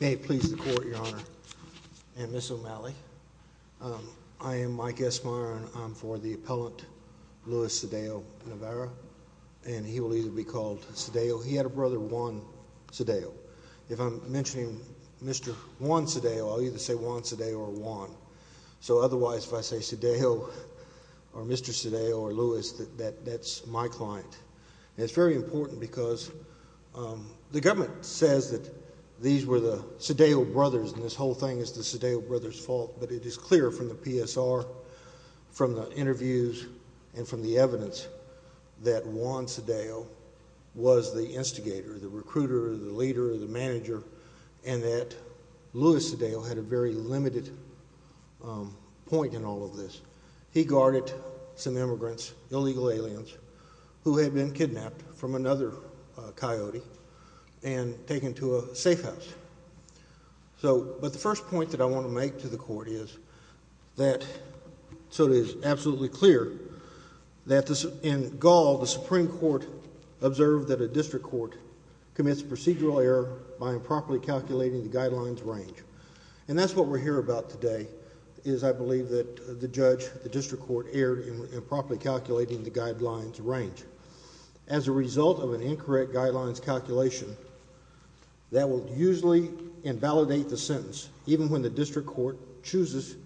May it please the Court, Your Honor and Ms. O'Malley, I am Mike Esmeyer and I'm for the appellant Luis Cedillo-Narvaez and he will either be called Cedillo, he had a brother Juan Cedillo. If I'm mentioning Mr. Juan Cedillo, I'll either say Juan Cedillo or Juan. So otherwise if I say Cedillo or Mr. Cedillo or Luis, that's my client. And it's very important because the government says that these were the Cedillo brothers and this whole thing is the Cedillo brothers fault but it is clear from the PSR, from the interviews and from the evidence that Juan Cedillo was the instigator, the recruiter, the leader, the manager and that Luis Cedillo had a very limited point in all of this. He guarded some immigrants, illegal aliens who had been kidnapped from another coyote and taken to a safe house. So but the first point that I want to make to the Court is that so it is absolutely clear that in Gaul, the Supreme Court observed that a district court commits procedural error by improperly calculating the guidelines range. And that's what we're here about today is I believe that the judge, the district court erred in improperly calculating the guidelines range. As a result of an incorrect guidelines calculation, that will usually invalidate the sentence even when the district court chooses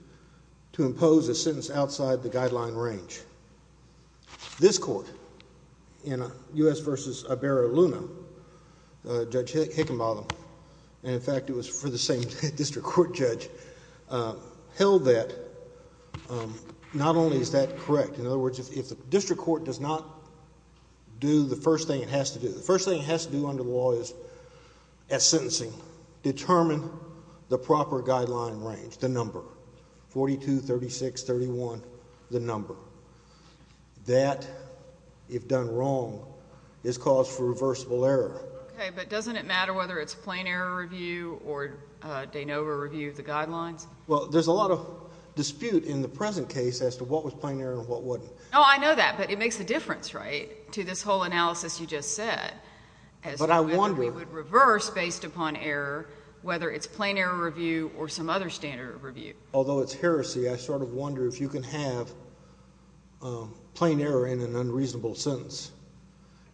to impose a sentence outside the guideline range. This court in U.S. v. Iberra-Luna, Judge Hickenbotham, and in fact it was for the same district court judge, held that not only is that correct, in other words if the district court does not do the first thing it has to do, the first thing it has to do under the law is at sentencing determine the proper guideline range, the number, 42, 36, 31, the number. That, if done wrong, is cause for reversible error. Okay, but doesn't it matter whether it's plain error review or de novo review of the guidelines? Well, there's a lot of dispute in the present case as to what was plain error and what wasn't. No, I know that, but it makes a difference, right, to this whole analysis you just said. But I wonder. As to whether we would reverse based upon error, whether it's plain error review or some other standard of review. Although it's heresy, I sort of wonder if you can have plain error in an unreasonable sentence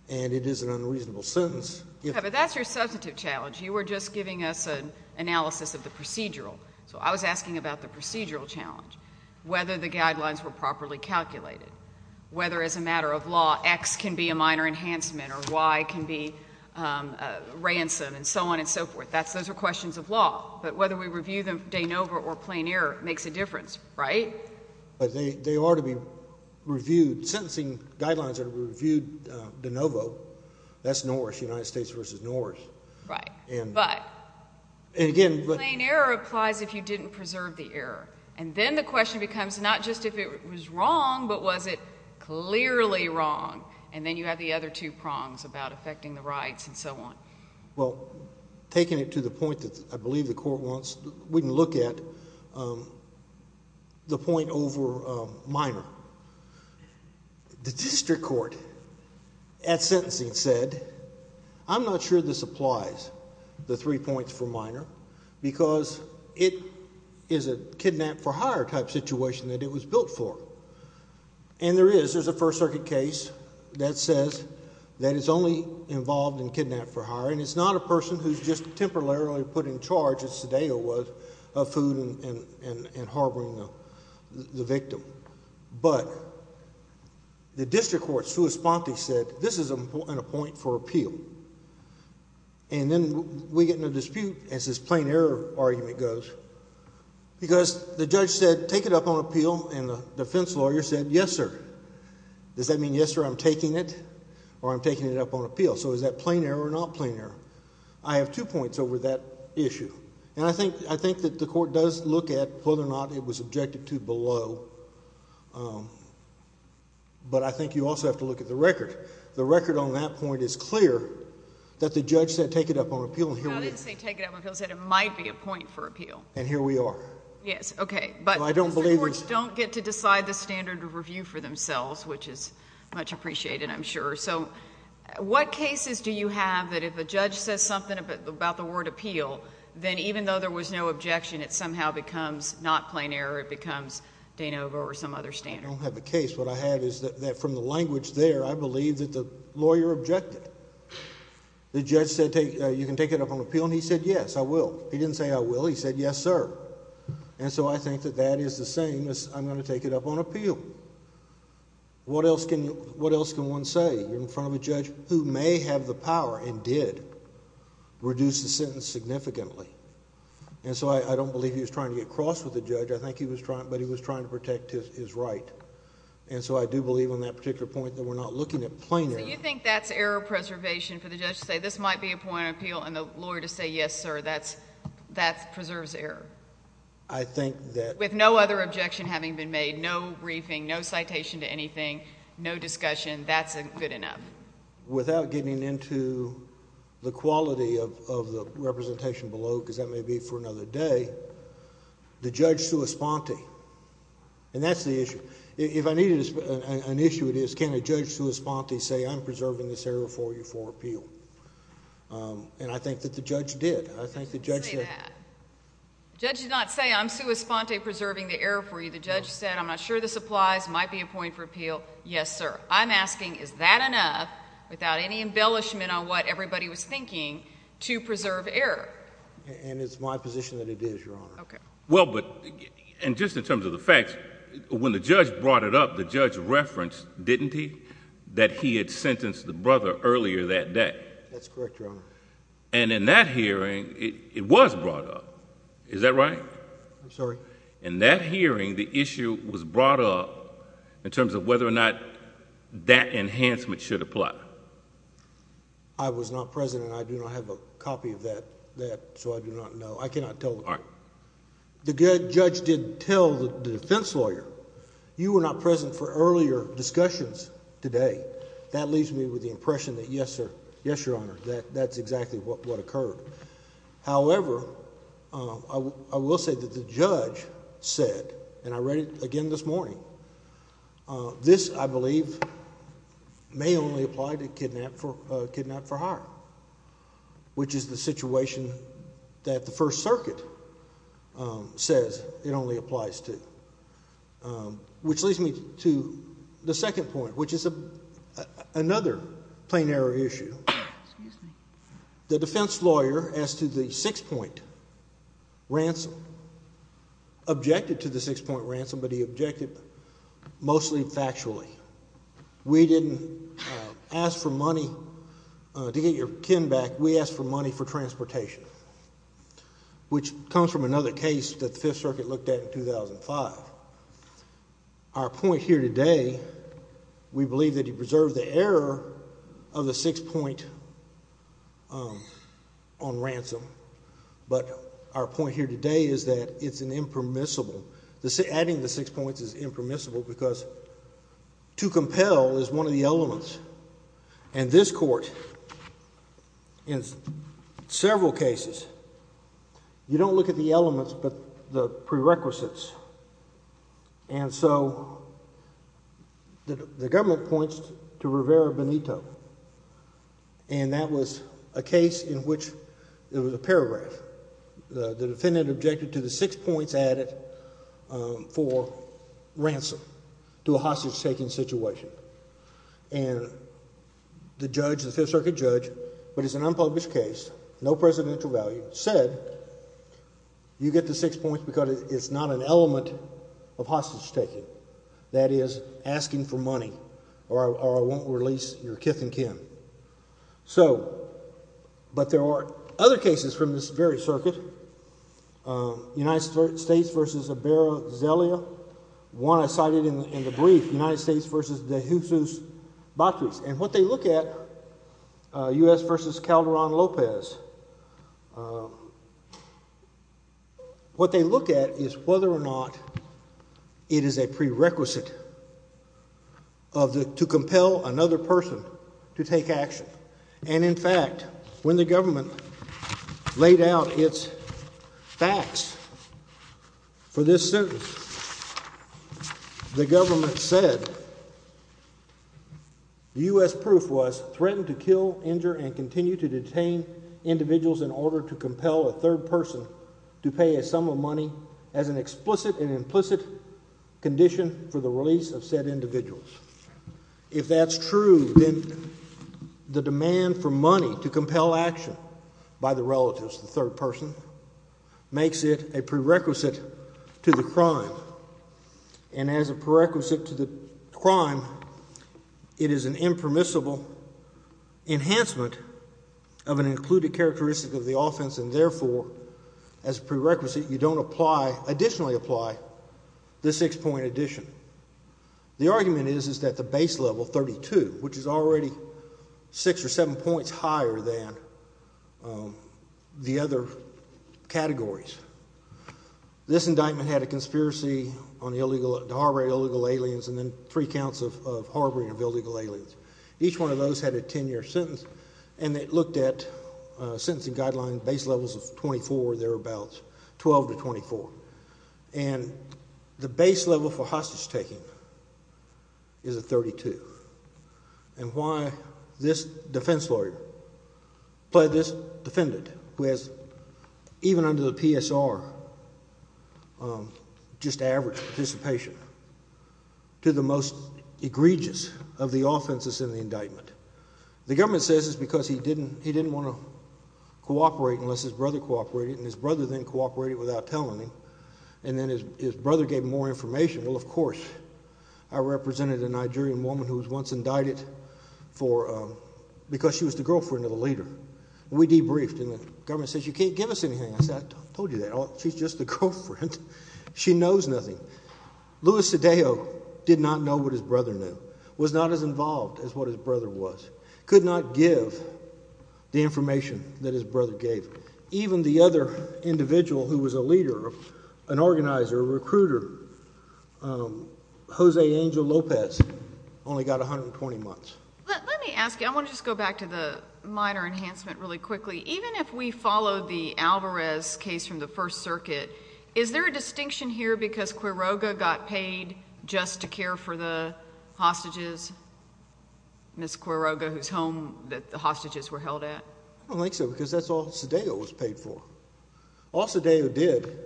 and it is an unreasonable sentence. Yeah, but that's your substantive challenge. You were just giving us an analysis of the procedural. So I was asking about the procedural challenge. Whether the guidelines were properly calculated. Whether as a matter of law, X can be a minor enhancement or Y can be a ransom and so on and so forth. Those are questions of law. But whether we review them de novo or plain error makes a difference, right? They are to be reviewed. Sentencing guidelines are to be reviewed de novo. That's Norse. United States versus Norse. Right. But. And again. Plain error applies if you didn't preserve the error. And then the question becomes not just if it was wrong, but was it clearly wrong. And then you have the other two prongs about affecting the rights and so on. Well, taking it to the point that I believe the court wants, we can look at the point over minor. The district court at sentencing said, I'm not sure this applies. The three points for minor. Because it is a kidnap for hire type situation that it was built for. And there is. There's a first circuit case that says that it's only involved in kidnap for hire. And it's not a person who's just temporarily put in charge, as Sadeo was, of food and harboring the victim. But the district court, sua sponte, said this is an appoint for appeal. And then we get in a dispute as this plain error argument goes. Because the judge said, take it up on appeal, and the defense lawyer said, yes, sir. Does that mean, yes, sir, I'm taking it, or I'm taking it up on appeal? So is that plain error or not plain error? I have two points over that issue. And I think that the court does look at whether or not it was objected to below. But I think you also have to look at the record. The record on that point is clear that the judge said, take it up on appeal. And here we are. I didn't say take it up on appeal. I said it might be a point for appeal. And here we are. Yes. OK. But the courts don't get to decide the standard of review for themselves, which is much appreciated, I'm sure. So what cases do you have that if a judge says something about the word appeal, then even though there was no objection, it somehow becomes not plain error, it becomes de novo or some other standard? I don't have a case. What I have is that from the language there, I believe that the lawyer objected. The judge said, you can take it up on appeal, and he said, yes, I will. He didn't say, I will. He said, yes, sir. And so I think that that is the same as I'm going to take it up on appeal. What else can one say in front of a judge who may have the power and did reduce the sentence significantly? And so I don't believe he was trying to get cross with the judge. I think he was trying, but he was trying to protect his right. And so I do believe on that particular point that we're not looking at plain error. So you think that's error preservation for the judge to say, this might be a point on appeal, and the lawyer to say, yes, sir, that preserves error? I think that... With no other objection having been made, no briefing, no citation to anything, no discussion, that's good enough? Without getting into the quality of the representation below, because that may be for another day, the judge sui sponte, and that's the issue. If I needed an issue, it is, can a judge sui sponte say, I'm preserving this error for you for appeal? And I think that the judge did. I think the judge said... Say that. The judge did not say, I'm sui sponte, preserving the error for you. The judge said, I'm not sure this applies, might be a point for appeal. Yes, sir. I'm asking, is that enough, without any embellishment on what everybody was thinking, to preserve error? And it's my position that it is, Your Honor. Okay. Well, but... And just in terms of the facts, when the judge brought it up, the judge referenced, didn't he, that he had sentenced the brother earlier that day? That's correct, Your Honor. And in that hearing, it was brought up. Is that right? I'm sorry? In that hearing, the issue was brought up in terms of whether or not that enhancement should apply. I was not present, and I do not have a copy of that, so I do not know. I cannot tell... All right. The judge did tell the defense lawyer, you were not present for earlier discussions today. That leaves me with the impression that, yes, sir, yes, Your Honor, that's exactly what occurred. However, I will say that the judge said, and I read it again this morning, this, I believe, may only apply to kidnap for hire, which is the situation that the First Circuit says it only applies to. Which leads me to the second point, which is another plain error issue. The defense lawyer, as to the six-point ransom, objected to the six-point ransom, but he objected mostly factually. We didn't ask for money to get your kin back. We asked for money for transportation, which comes from another case that the Fifth Circuit looked at in 2005. Our point here today, we believe that he preserved the error of the six-point on ransom, but our point here today is that it's an impermissible... adding the six points is impermissible because to compel is one of the elements. And this Court, in several cases, you don't look at the elements but the prerequisites. And so, the government points to Rivera Benito, and that was a case in which there was a paragraph. The defendant objected to the six points added for ransom to a hostage-taking situation. And the judge, the Fifth Circuit judge, but it's an unpublished case, no presidential value, said you get the six points because it's not an element of hostage-taking. That is, asking for money, or I won't release your kith and kin. So, but there are other cases from this very circuit, United States v. Abero Zelia, one I cited in the brief, United States v. De Jusus Batris. And what they look at, U.S. v. Calderon Lopez, what they look at is whether or not it is a prerequisite to compel another person to take action. And in fact, when the government laid out its facts for this sentence, the government said the U.S. proof was threatened to kill, injure, and continue to detain individuals in order to compel a third person to pay a sum of money as an explicit and implicit condition for the release of said individuals. If that's true, then the demand for money to compel action by the relatives, the third person, makes it a prerequisite to the crime. And as a prerequisite to the crime, it is an impermissible enhancement of an included characteristic of the offense, and therefore, as a prerequisite, you don't apply, additionally apply, the six-point addition. The argument is that the base level, 32, which is already six or seven points higher than the other categories. This indictment had a conspiracy on the harboring of illegal aliens and three counts of harboring of illegal aliens. Each one of those had a ten-year sentence, and it looked at sentencing guidelines, base levels of 24, thereabouts, 12 to 24. And the base level for hostage-taking is a 32. And why this defense lawyer pled this defendant, who has, even under the PSR, just average participation, to the most egregious of the offenses in the indictment. The government says it's because he didn't want to cooperate unless his brother cooperated, and his brother then cooperated without telling him, and then his brother gave him more information. Well, of course, I represented a Nigerian woman who was once indicted for, because she was the girlfriend of the leader. We debriefed, and the government says, you can't give us anything. I said, I told you that. She's just a girlfriend. She knows nothing. Luis Cedejo did not know what his brother knew, was not as involved as what his brother was, could not give the information that his brother gave. Even the other individual who was a leader, an organizer, a recruiter, Jose Angel Lopez, only got 120 months. Let me ask you, I want to just go back to the minor enhancement really quickly. Even if we followed the Alvarez case from the First Circuit, is there a distinction here because Quiroga got paid just to care for the hostages, Ms. Quiroga, whose home that the hostages were held at? I don't think so, because that's all Cedejo was paid for. All Cedejo did—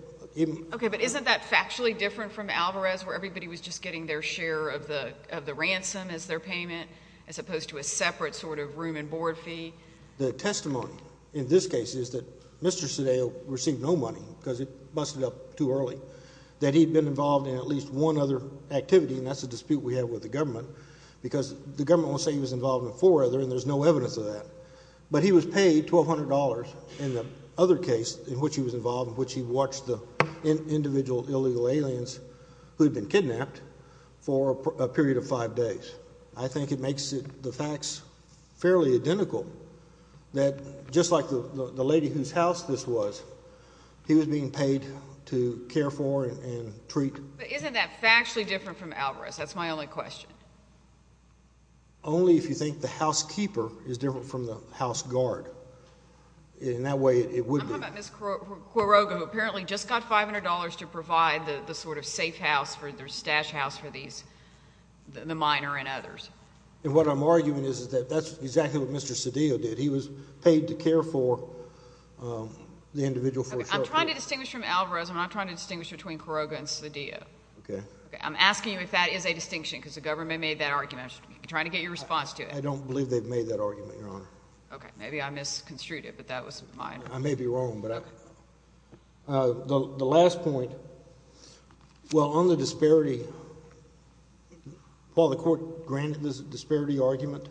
Okay, but isn't that factually different from Alvarez, where everybody was just getting their share of the ransom as their payment, as opposed to a separate sort of room and board fee? The testimony in this case is that Mr. Cedejo received no money because it busted up too early, that he'd been involved in at least one other activity, and that's a dispute we have with the government, because the government won't say he was involved in four other, and there's no evidence of that. But he was paid $1,200 in the other case in which he was involved, in which he watched the individual illegal aliens who had been kidnapped for a period of five days. I think it makes the facts fairly identical, that just like the lady whose house this was, he was being paid to care for and treat— But isn't that factually different from Alvarez? That's my only question. Only if you think the housekeeper is different from the house guard. In that way, it would be. I'm talking about Ms. Quiroga, who apparently just got $500 to provide the sort of safe house, the stash house for these, the minor and others. And what I'm arguing is that that's exactly what Mr. Cedejo did. He was paid to care for the individual for a short period of time. I'm trying to distinguish from Alvarez, and I'm trying to distinguish between Quiroga and Cedejo. Okay. I'm asking you if that is a distinction, because the government made that argument. I'm trying to get your response to it. I don't believe they've made that argument, Your Honor. Okay. Maybe I misconstrued it, but that was mine. I may be wrong, but I— The last point, well, on the disparity, while the court granted this disparity argument,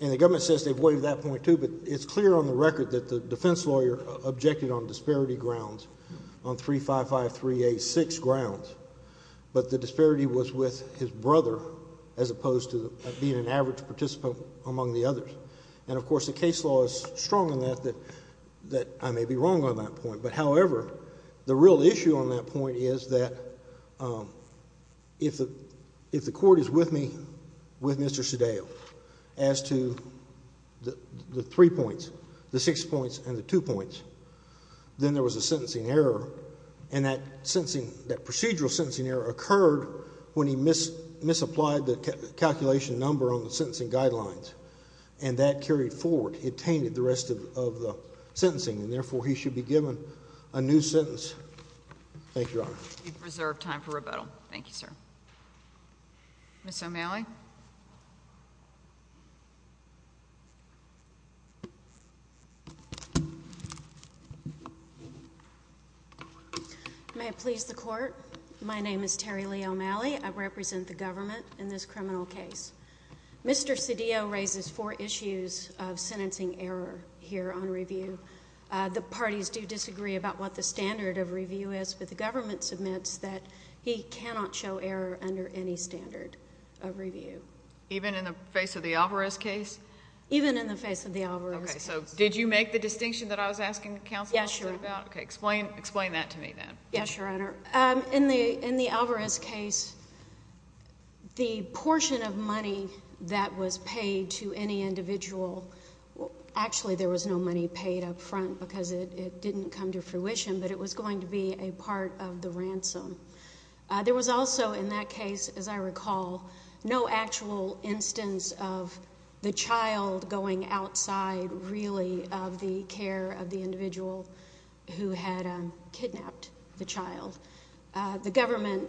and the government says they've waived that point, too, but it's clear on the record that the defense lawyer objected on disparity grounds, on 355386 grounds. But the disparity was with his brother, as opposed to being an average participant among the others. And, of course, the case law is strong on that, that I may be wrong on that point. But, however, the real issue on that point is that if the court is with me, with Mr. Cedejo, as to the three points, the six points and the two points, then there was a sentencing error, and that procedural sentencing error occurred when he misapplied the calculation number on the sentencing guidelines, and that carried forward. And it tainted the rest of the sentencing, and, therefore, he should be given a new sentence. Thank you, Your Honor. We have reserved time for rebuttal. Thank you, sir. Ms. O'Malley? May it please the Court, my name is Terri Lee O'Malley. I represent the government in this criminal case. Mr. Cedejo raises four issues of sentencing error here on review. The parties do disagree about what the standard of review is, but the government submits that he cannot show error under any standard of review. Even in the face of the Alvarez case? Even in the face of the Alvarez case. Okay. So did you make the distinction that I was asking counsel about? Yes, Your Honor. Okay. Explain that to me, then. Yes, Your Honor. In the Alvarez case, the portion of money that was paid to any individual—actually, there was no money paid up front because it didn't come to fruition, but it was going to be a part of the ransom—there was also, in that case, as I recall, no actual instance the child going outside, really, of the care of the individual who had kidnapped the child. The government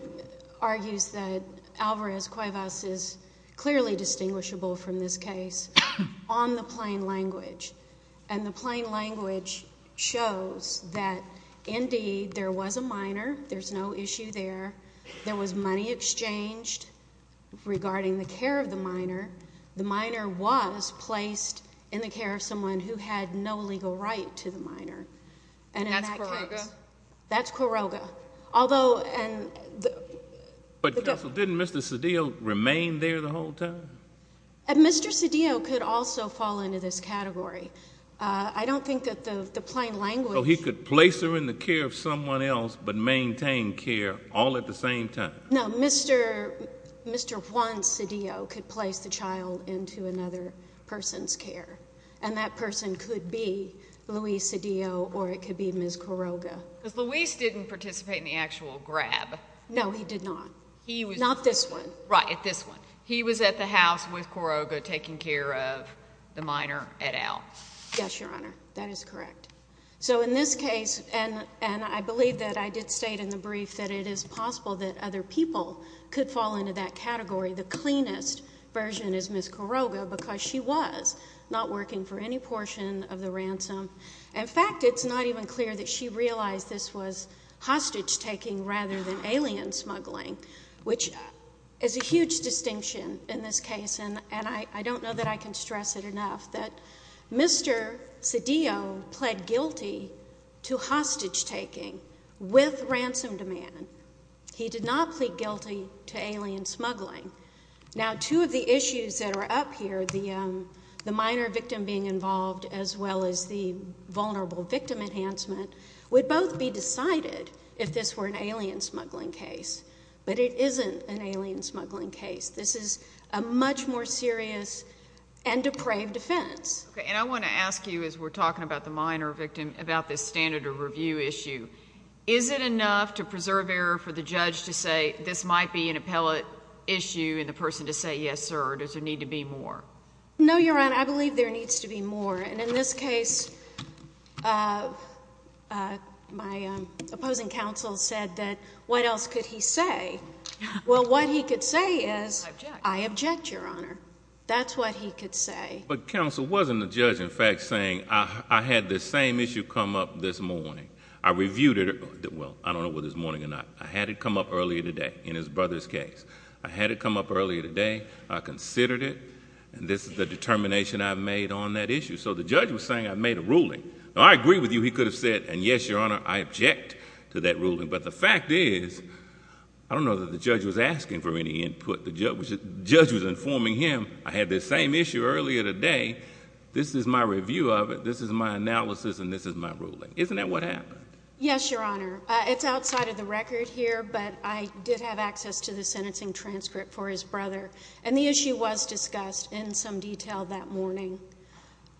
argues that Alvarez Cuevas is clearly distinguishable from this case on the plain language, and the plain language shows that, indeed, there was a minor, there's no issue there, there was money exchanged regarding the care of the minor. The minor was placed in the care of someone who had no legal right to the minor. And that's Quiroga? That's Quiroga. Although— But, counsel, didn't Mr. Cedillo remain there the whole time? Mr. Cedillo could also fall into this category. I don't think that the plain language— So he could place her in the care of someone else but maintain care all at the same time? No. Mr. Juan Cedillo could place the child into another person's care, and that person could be Luis Cedillo or it could be Ms. Quiroga. Because Luis didn't participate in the actual grab. No, he did not. Not this one. Right. At this one. He was at the house with Quiroga taking care of the minor at Alvarez. Yes, Your Honor, that is correct. So in this case, and I believe that I did state in the brief that it is possible that other people could fall into that category. The cleanest version is Ms. Quiroga because she was not working for any portion of the ransom. In fact, it's not even clear that she realized this was hostage-taking rather than alien smuggling, which is a huge distinction in this case, and I don't know that I can stress it enough that Mr. Cedillo pled guilty to hostage-taking with ransom demand. He did not plead guilty to alien smuggling. Now, two of the issues that are up here, the minor victim being involved as well as the vulnerable victim enhancement, would both be decided if this were an alien smuggling case. But it isn't an alien smuggling case. This is a much more serious and depraved offense. Okay, and I want to ask you as we're talking about the minor victim about this standard of review issue. Is it enough to preserve error for the judge to say this might be an appellate issue and the person to say, yes, sir, or does there need to be more? No, Your Honor, I believe there needs to be more, and in this case, my opposing counsel said that what else could he say? Well, what he could say is, I object, Your Honor. That's what he could say. But counsel wasn't the judge, in fact, saying, I had this same issue come up this morning. I reviewed it. Well, I don't know whether it was this morning or not. I had it come up earlier today in his brother's case. I had it come up earlier today, I considered it, and this is the determination I've made on that issue. So the judge was saying I made a ruling. Now, I agree with you he could have said, and yes, Your Honor, I object to that ruling, but the fact is, I don't know that the judge was asking for any input. The judge was informing him, I had this same issue earlier today. This is my review of it, this is my analysis, and this is my ruling. Isn't that what happened? Yes, Your Honor. It's outside of the record here, but I did have access to the sentencing transcript for his brother, and the issue was discussed in some detail that morning.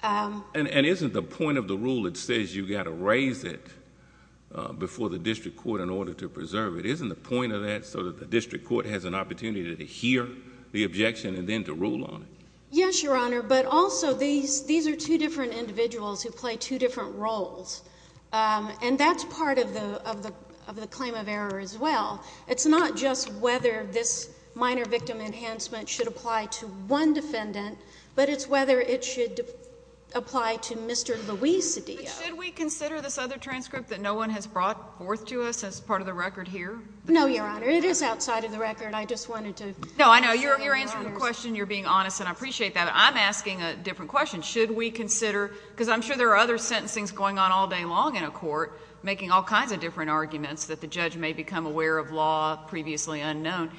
And isn't the point of the rule that says you've got to raise it before the district court in order to preserve it, isn't the point of that so that the district court has an opportunity to hear the objection and then to rule on it? Yes, Your Honor, but also, these are two different individuals who play two different roles, and that's part of the claim of error as well. It's not just whether this minor victim enhancement should apply to one defendant, but it's whether it should apply to Mr. Luis Cedillo. But should we consider this other transcript that no one has brought forth to us as part of the record here? No, Your Honor, it is outside of the record. I just wanted to... No, I know, you're answering the question, you're being honest, and I appreciate that, but I'm asking a different question. Should we consider, because I'm sure there are other sentencings going on all day long in a court, making all kinds of different arguments that the judge may become aware of law previously unknown.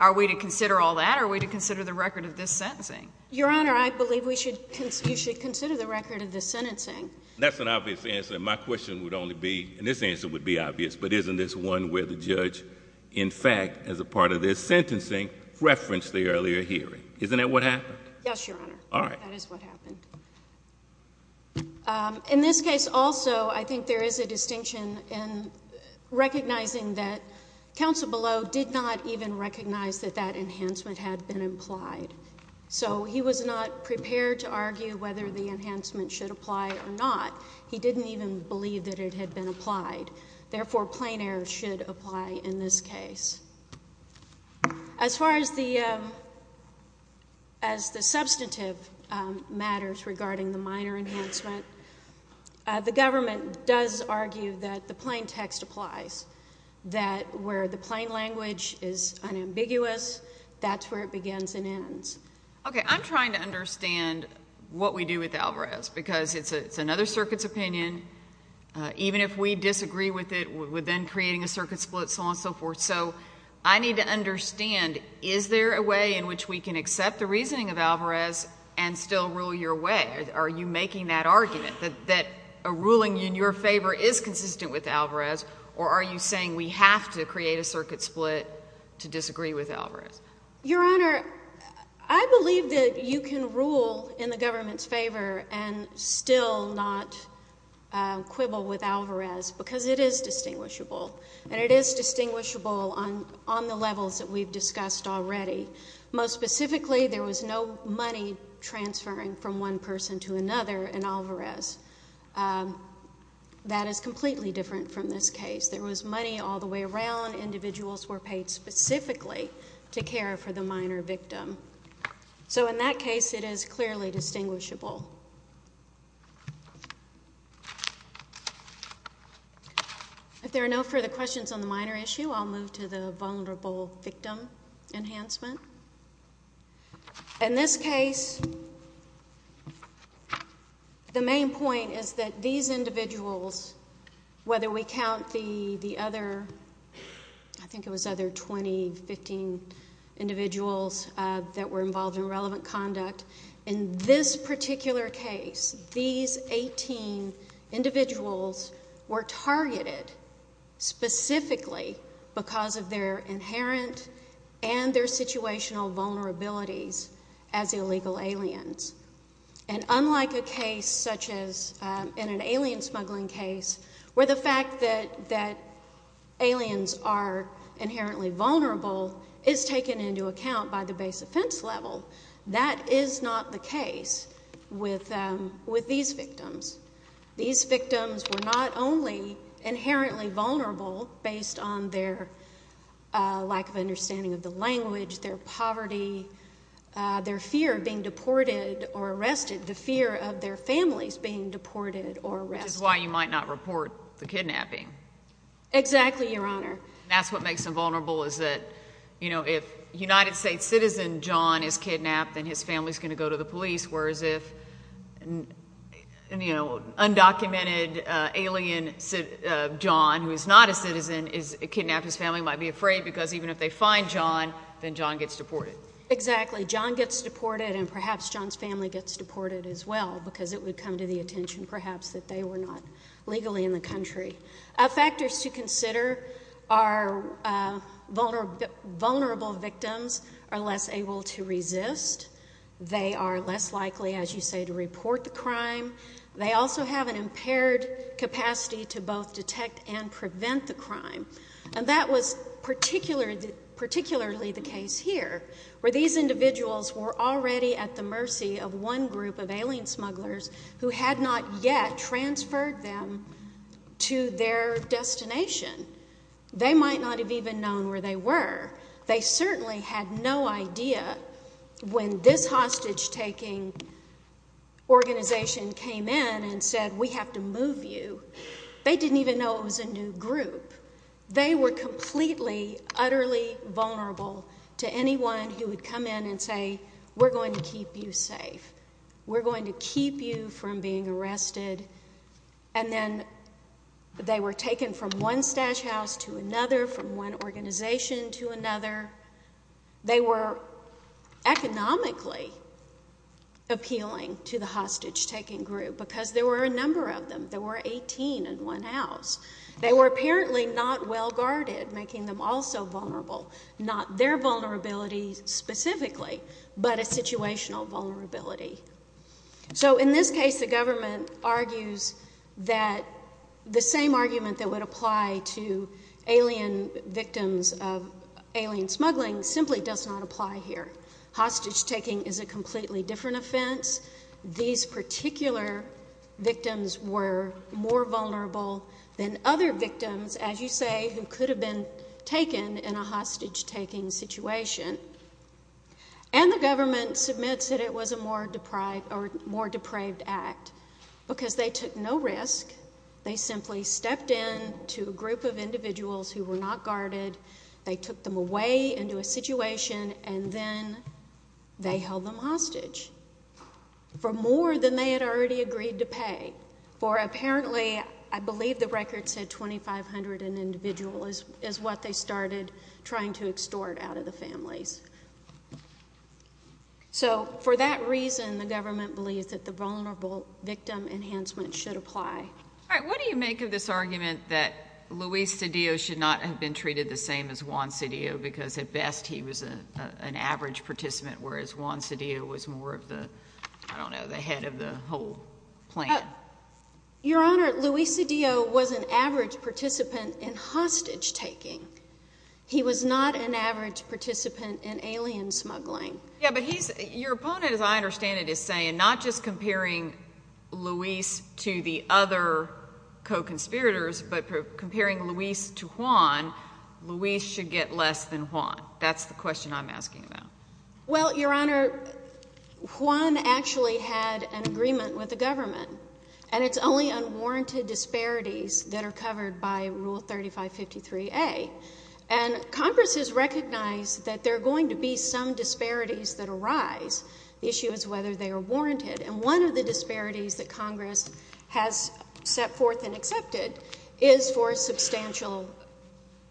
Are we to consider all that, or are we to consider the record of this sentencing? Your Honor, I believe we should consider the record of this sentencing. That's an obvious answer, and my question would only be, and this answer would be obvious, but isn't this one where the judge, in fact, as a part of their sentencing, referenced the earlier hearing? Isn't that what happened? Yes, Your Honor. All right. That is what happened. In this case also, I think there is a distinction in recognizing that counsel below did not even recognize that that enhancement had been implied. So he was not prepared to argue whether the enhancement should apply or not. He didn't even believe that it had been applied. Therefore, plain error should apply in this case. As far as the substantive matters regarding the minor enhancement, the government does argue that the plain text applies, that where the plain language is unambiguous, that's where it begins and ends. Okay. I'm trying to understand what we do with Alvarez, because it's another circuit's opinion. Even if we disagree with it, we're then creating a circuit split, so on and so forth. So I need to understand, is there a way in which we can accept the reasoning of Alvarez and still rule your way? Are you making that argument, that a ruling in your favor is consistent with Alvarez, Your Honor, I believe that you can rule in the government's favor and still not quibble with Alvarez, because it is distinguishable. And it is distinguishable on the levels that we've discussed already. Most specifically, there was no money transferring from one person to another in Alvarez. That is completely different from this case. There was money all the way around. Individuals were paid specifically to care for the minor victim. So in that case, it is clearly distinguishable. If there are no further questions on the minor issue, I'll move to the vulnerable victim enhancement. In this case, the main point is that these individuals, whether we count the other, I think it was other 20, 15 individuals that were involved in relevant conduct, in this particular case, these 18 individuals were targeted specifically because of their inherent and their situational vulnerabilities as illegal aliens. And unlike a case such as in an alien smuggling case, where the fact that aliens are inherently vulnerable is taken into account by the base offense level, that is not the case with these victims. These victims were not only inherently vulnerable based on their lack of understanding of the language, their poverty, their fear of being deported or arrested, the fear of their families being deported or arrested. Which is why you might not report the kidnapping. Exactly, Your Honor. That's what makes them vulnerable is that, you know, if a United States citizen, John, is kidnapped, then his family is going to go to the police, whereas if, you know, undocumented alien John, who is not a citizen, is kidnapped, his family might be afraid because even if they find John, then John gets deported. Exactly. John gets deported and perhaps John's family gets deported as well because it would come to the attention, perhaps, that they were not legally in the country. Factors to consider are vulnerable victims are less able to resist. They are less likely, as you say, to report the crime. They also have an impaired capacity to both detect and prevent the crime. And that was particularly the case here, where these individuals were already at the mercy of one group of alien smugglers who had not yet transferred them to their destination. They might not have even known where they were. They certainly had no idea when this hostage-taking organization came in and said, we have to move you. They didn't even know it was a new group. They were completely, utterly vulnerable to anyone who would come in and say, we're going to keep you safe. We're going to keep you from being arrested. And then they were taken from one stash house to another, from one organization to another. They were economically appealing to the hostage-taking group because there were a number of them. There were 18 in one house. They were apparently not well-guarded, making them also vulnerable. Not their vulnerability specifically, but a situational vulnerability. So in this case, the government argues that the same argument that would apply to alien victims of alien smuggling simply does not apply here. Hostage-taking is a completely different offense. These particular victims were more vulnerable than other victims, as you say, who could have been taken in a hostage-taking situation. And the government submits that it was a more deprived or more depraved act because they took no risk. They simply stepped in to a group of individuals who were not guarded. They took them away into a situation, and then they held them hostage for more than they had already agreed to pay. For apparently, I believe the record said 2,500 individuals is what they started trying to extort out of the families. So for that reason, the government believes that the vulnerable victim enhancement should apply. All right. What do you make of this argument that Luis Cedillo should not have been treated the same as Juan Cedillo because at best he was an average participant, whereas Juan Cedillo was more of the, I don't know, the head of the whole plan? Your Honor, Luis Cedillo was an average participant in hostage-taking. He was not an average participant in alien smuggling. Yeah, but he's, your opponent, as I understand it, is saying not just comparing Luis to the other co-conspirators, but comparing Luis to Juan, Luis should get less than Juan. That's the question I'm asking about. Well, Your Honor, Juan actually had an agreement with the government, and it's only unwarranted disparities that are covered by Rule 3553A. And Congress has recognized that there are going to be some disparities that arise. The issue is whether they are warranted. And one of the disparities that Congress has set forth and accepted is for substantial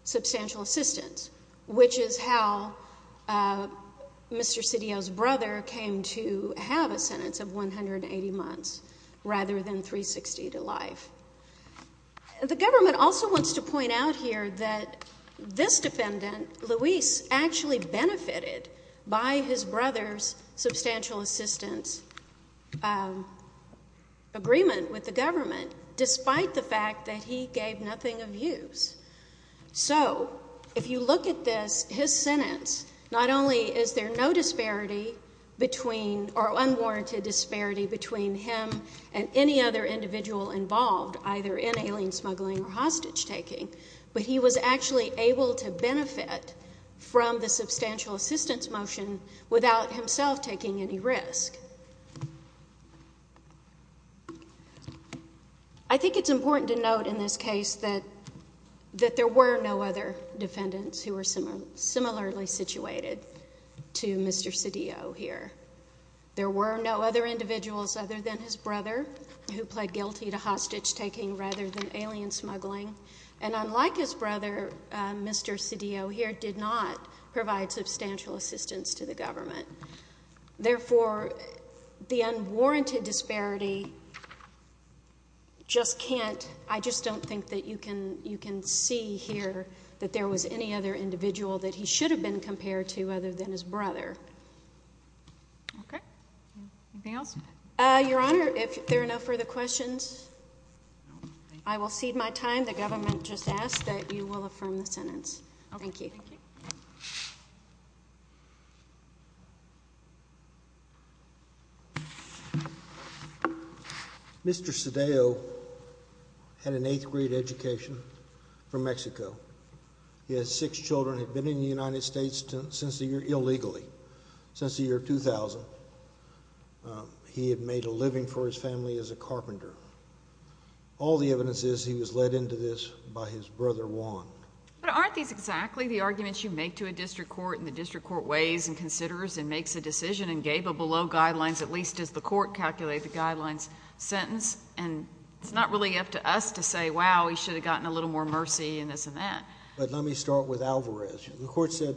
assistance, which is how Mr. Cedillo's brother came to have a sentence of 180 months rather than 360 to life. The government also wants to point out here that this defendant, Luis, actually benefited by his brother's substantial assistance agreement with the government, despite the fact that he gave nothing of use. So if you look at this, his sentence, not only is there no disparity between, or unwarranted disparity between him and any other individual involved, either in alien smuggling or hostage-taking, but he was actually able to benefit from the substantial assistance motion without himself taking any risk. And I think it's important to note in this case that there were no other defendants who were similarly situated to Mr. Cedillo here. There were no other individuals other than his brother who pled guilty to hostage-taking rather than alien smuggling. And unlike his brother, Mr. Cedillo here did not provide substantial assistance to the government. Therefore, the unwarranted disparity just can't, I just don't think that you can see here that there was any other individual that he should have been compared to other than his brother. Okay. Anything else? Your Honor, if there are no further questions, I will cede my time. The government just asked that you will affirm the sentence. Thank you. Okay. Thank you. Mr. Cedillo had an eighth-grade education from Mexico. He has six children, had been in the United States since the year, illegally, since the year 2000. He had made a living for his family as a carpenter. All the evidence is he was led into this by his brother Juan. But aren't these exactly the arguments you make to a district court and the district court weighs and considers and makes a decision and gave a below-guidelines, at least as the court calculated the guidelines, sentence? And it's not really up to us to say, wow, he should have gotten a little more mercy and this and that. But let me start with Alvarez. The court said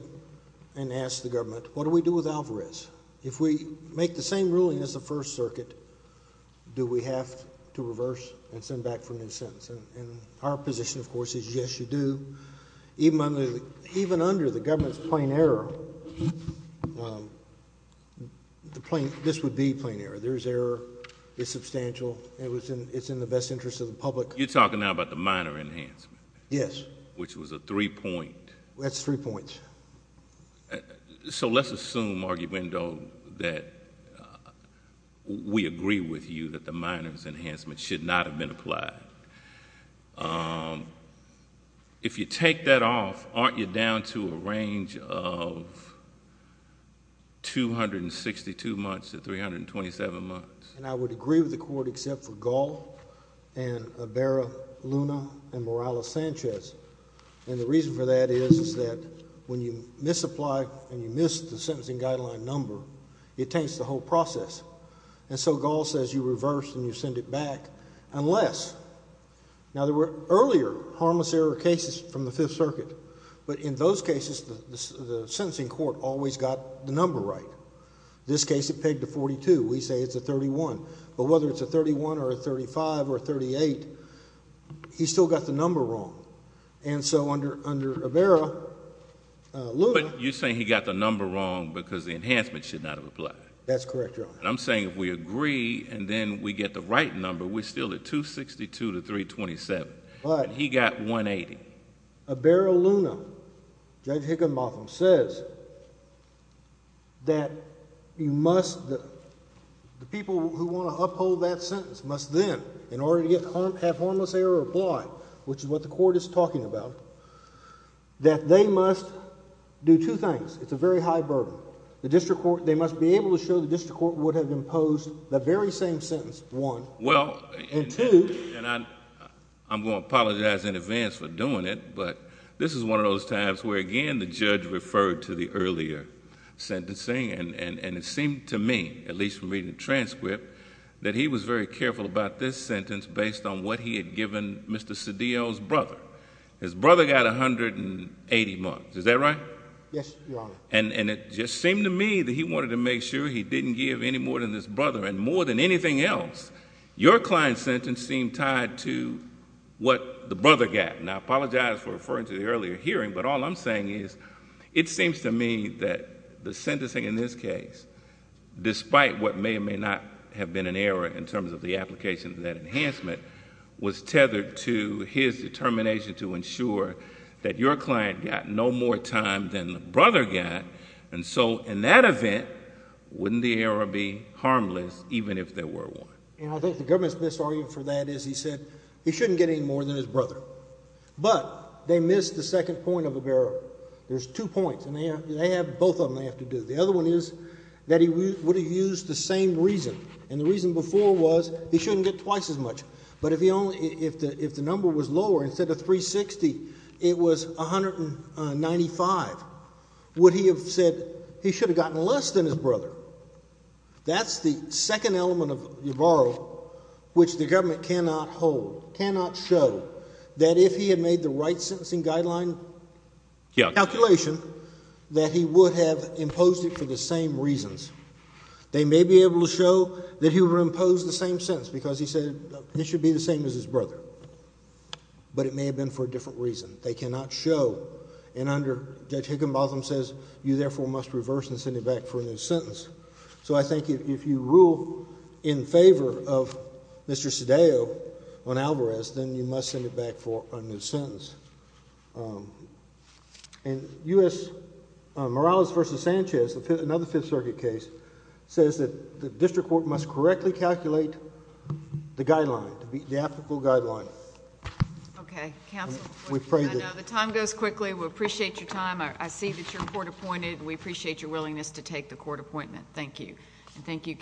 and asked the government, what do we do with Alvarez? If we make the same ruling as the First Circuit, do we have to reverse and send back for a new sentence? And our position, of course, is yes, you do. Even under the government's plain error, this would be plain error. There's error. It's substantial. It's in the best interest of the public. You're talking now about the minor enhancement. Yes. Which was a three-point. That's three points. So let's assume, Arguindo, that we agree with you that the minor's enhancement should not have been applied. If you take that off, aren't you down to a range of 262 months to 327 months? And I would agree with the court except for Gall and Abera, Luna, and Morales-Sanchez. And the reason for that is that when you misapply and you miss the sentencing guideline number, it takes the whole process. And so Gall says you reverse and you send it back, unless. Now there were earlier harmless error cases from the Fifth Circuit. But in those cases, the sentencing court always got the number right. This case, it pegged to 42. We say it's a 31. But whether it's a 31 or a 35 or a 38, he still got the number wrong. And so under Abera, Luna. You're saying he got the number wrong because the enhancement should not have applied. That's correct, Your Honor. I'm saying if we agree and then we get the right number, we're still at 262 to 327. But he got 180. Abera, Luna, Judge Higginbotham says that you must, the people who want to uphold that sentence must then, in order to have harmless error applied, which is what the court is talking about, that they must do two things. It's a very high burden. The district court, they must be able to show the district court would have imposed the very same sentence, one. Well, and two, and I'm going to apologize in advance for doing it, but this is one of those times where, again, the judge referred to the earlier sentencing. And it seemed to me, at least from reading the transcript, that he was very careful about this sentence based on what he had given Mr. Cedillo's brother. His brother got 180 marks. Is that right? Yes, Your Honor. And it just seemed to me that he wanted to make sure he didn't give any more than his brother, and more than anything else, your client's sentence seemed tied to what the brother got. And I apologize for referring to the earlier hearing, but all I'm saying is, it seems to me that the sentencing in this case, despite what may or may not have been an error in terms of the application of that enhancement, was tethered to his determination to ensure that your client got no more time than the brother got. And so, in that event, wouldn't the error be harmless, even if there were one? And I think the government's misargument for that is, he said, he shouldn't get any more than his brother. But they missed the second point of the error. There's two points, and they have both of them they have to do. The other one is that he would have used the same reason. And the reason before was, he shouldn't get twice as much. But if the number was lower, instead of 360, it was 195, would he have said, he should have gotten less than his brother? That's the second element of Yavarro, which the government cannot hold, cannot show, that if he had made the right sentencing guideline calculation, that he would have imposed it for the same reasons. They may be able to show that he would impose the same sentence, because he said, it should be the same as his brother. But it may have been for a different reason. They cannot show. And under, Judge Higginbotham says, you therefore must reverse and send it back for a new sentence. So I think if you rule in favor of Mr. Cedillo on Alvarez, then you must send it back for a new sentence. And U.S. Morales v. Sanchez, another Fifth Circuit case, says that the district court must correctly calculate the guideline, the applicable guideline. We pray that... Okay. Counsel, I know the time goes quickly. We appreciate your time. I see that you're court appointed. We appreciate your willingness to take the court appointment. Thank you. And thank you, counsel.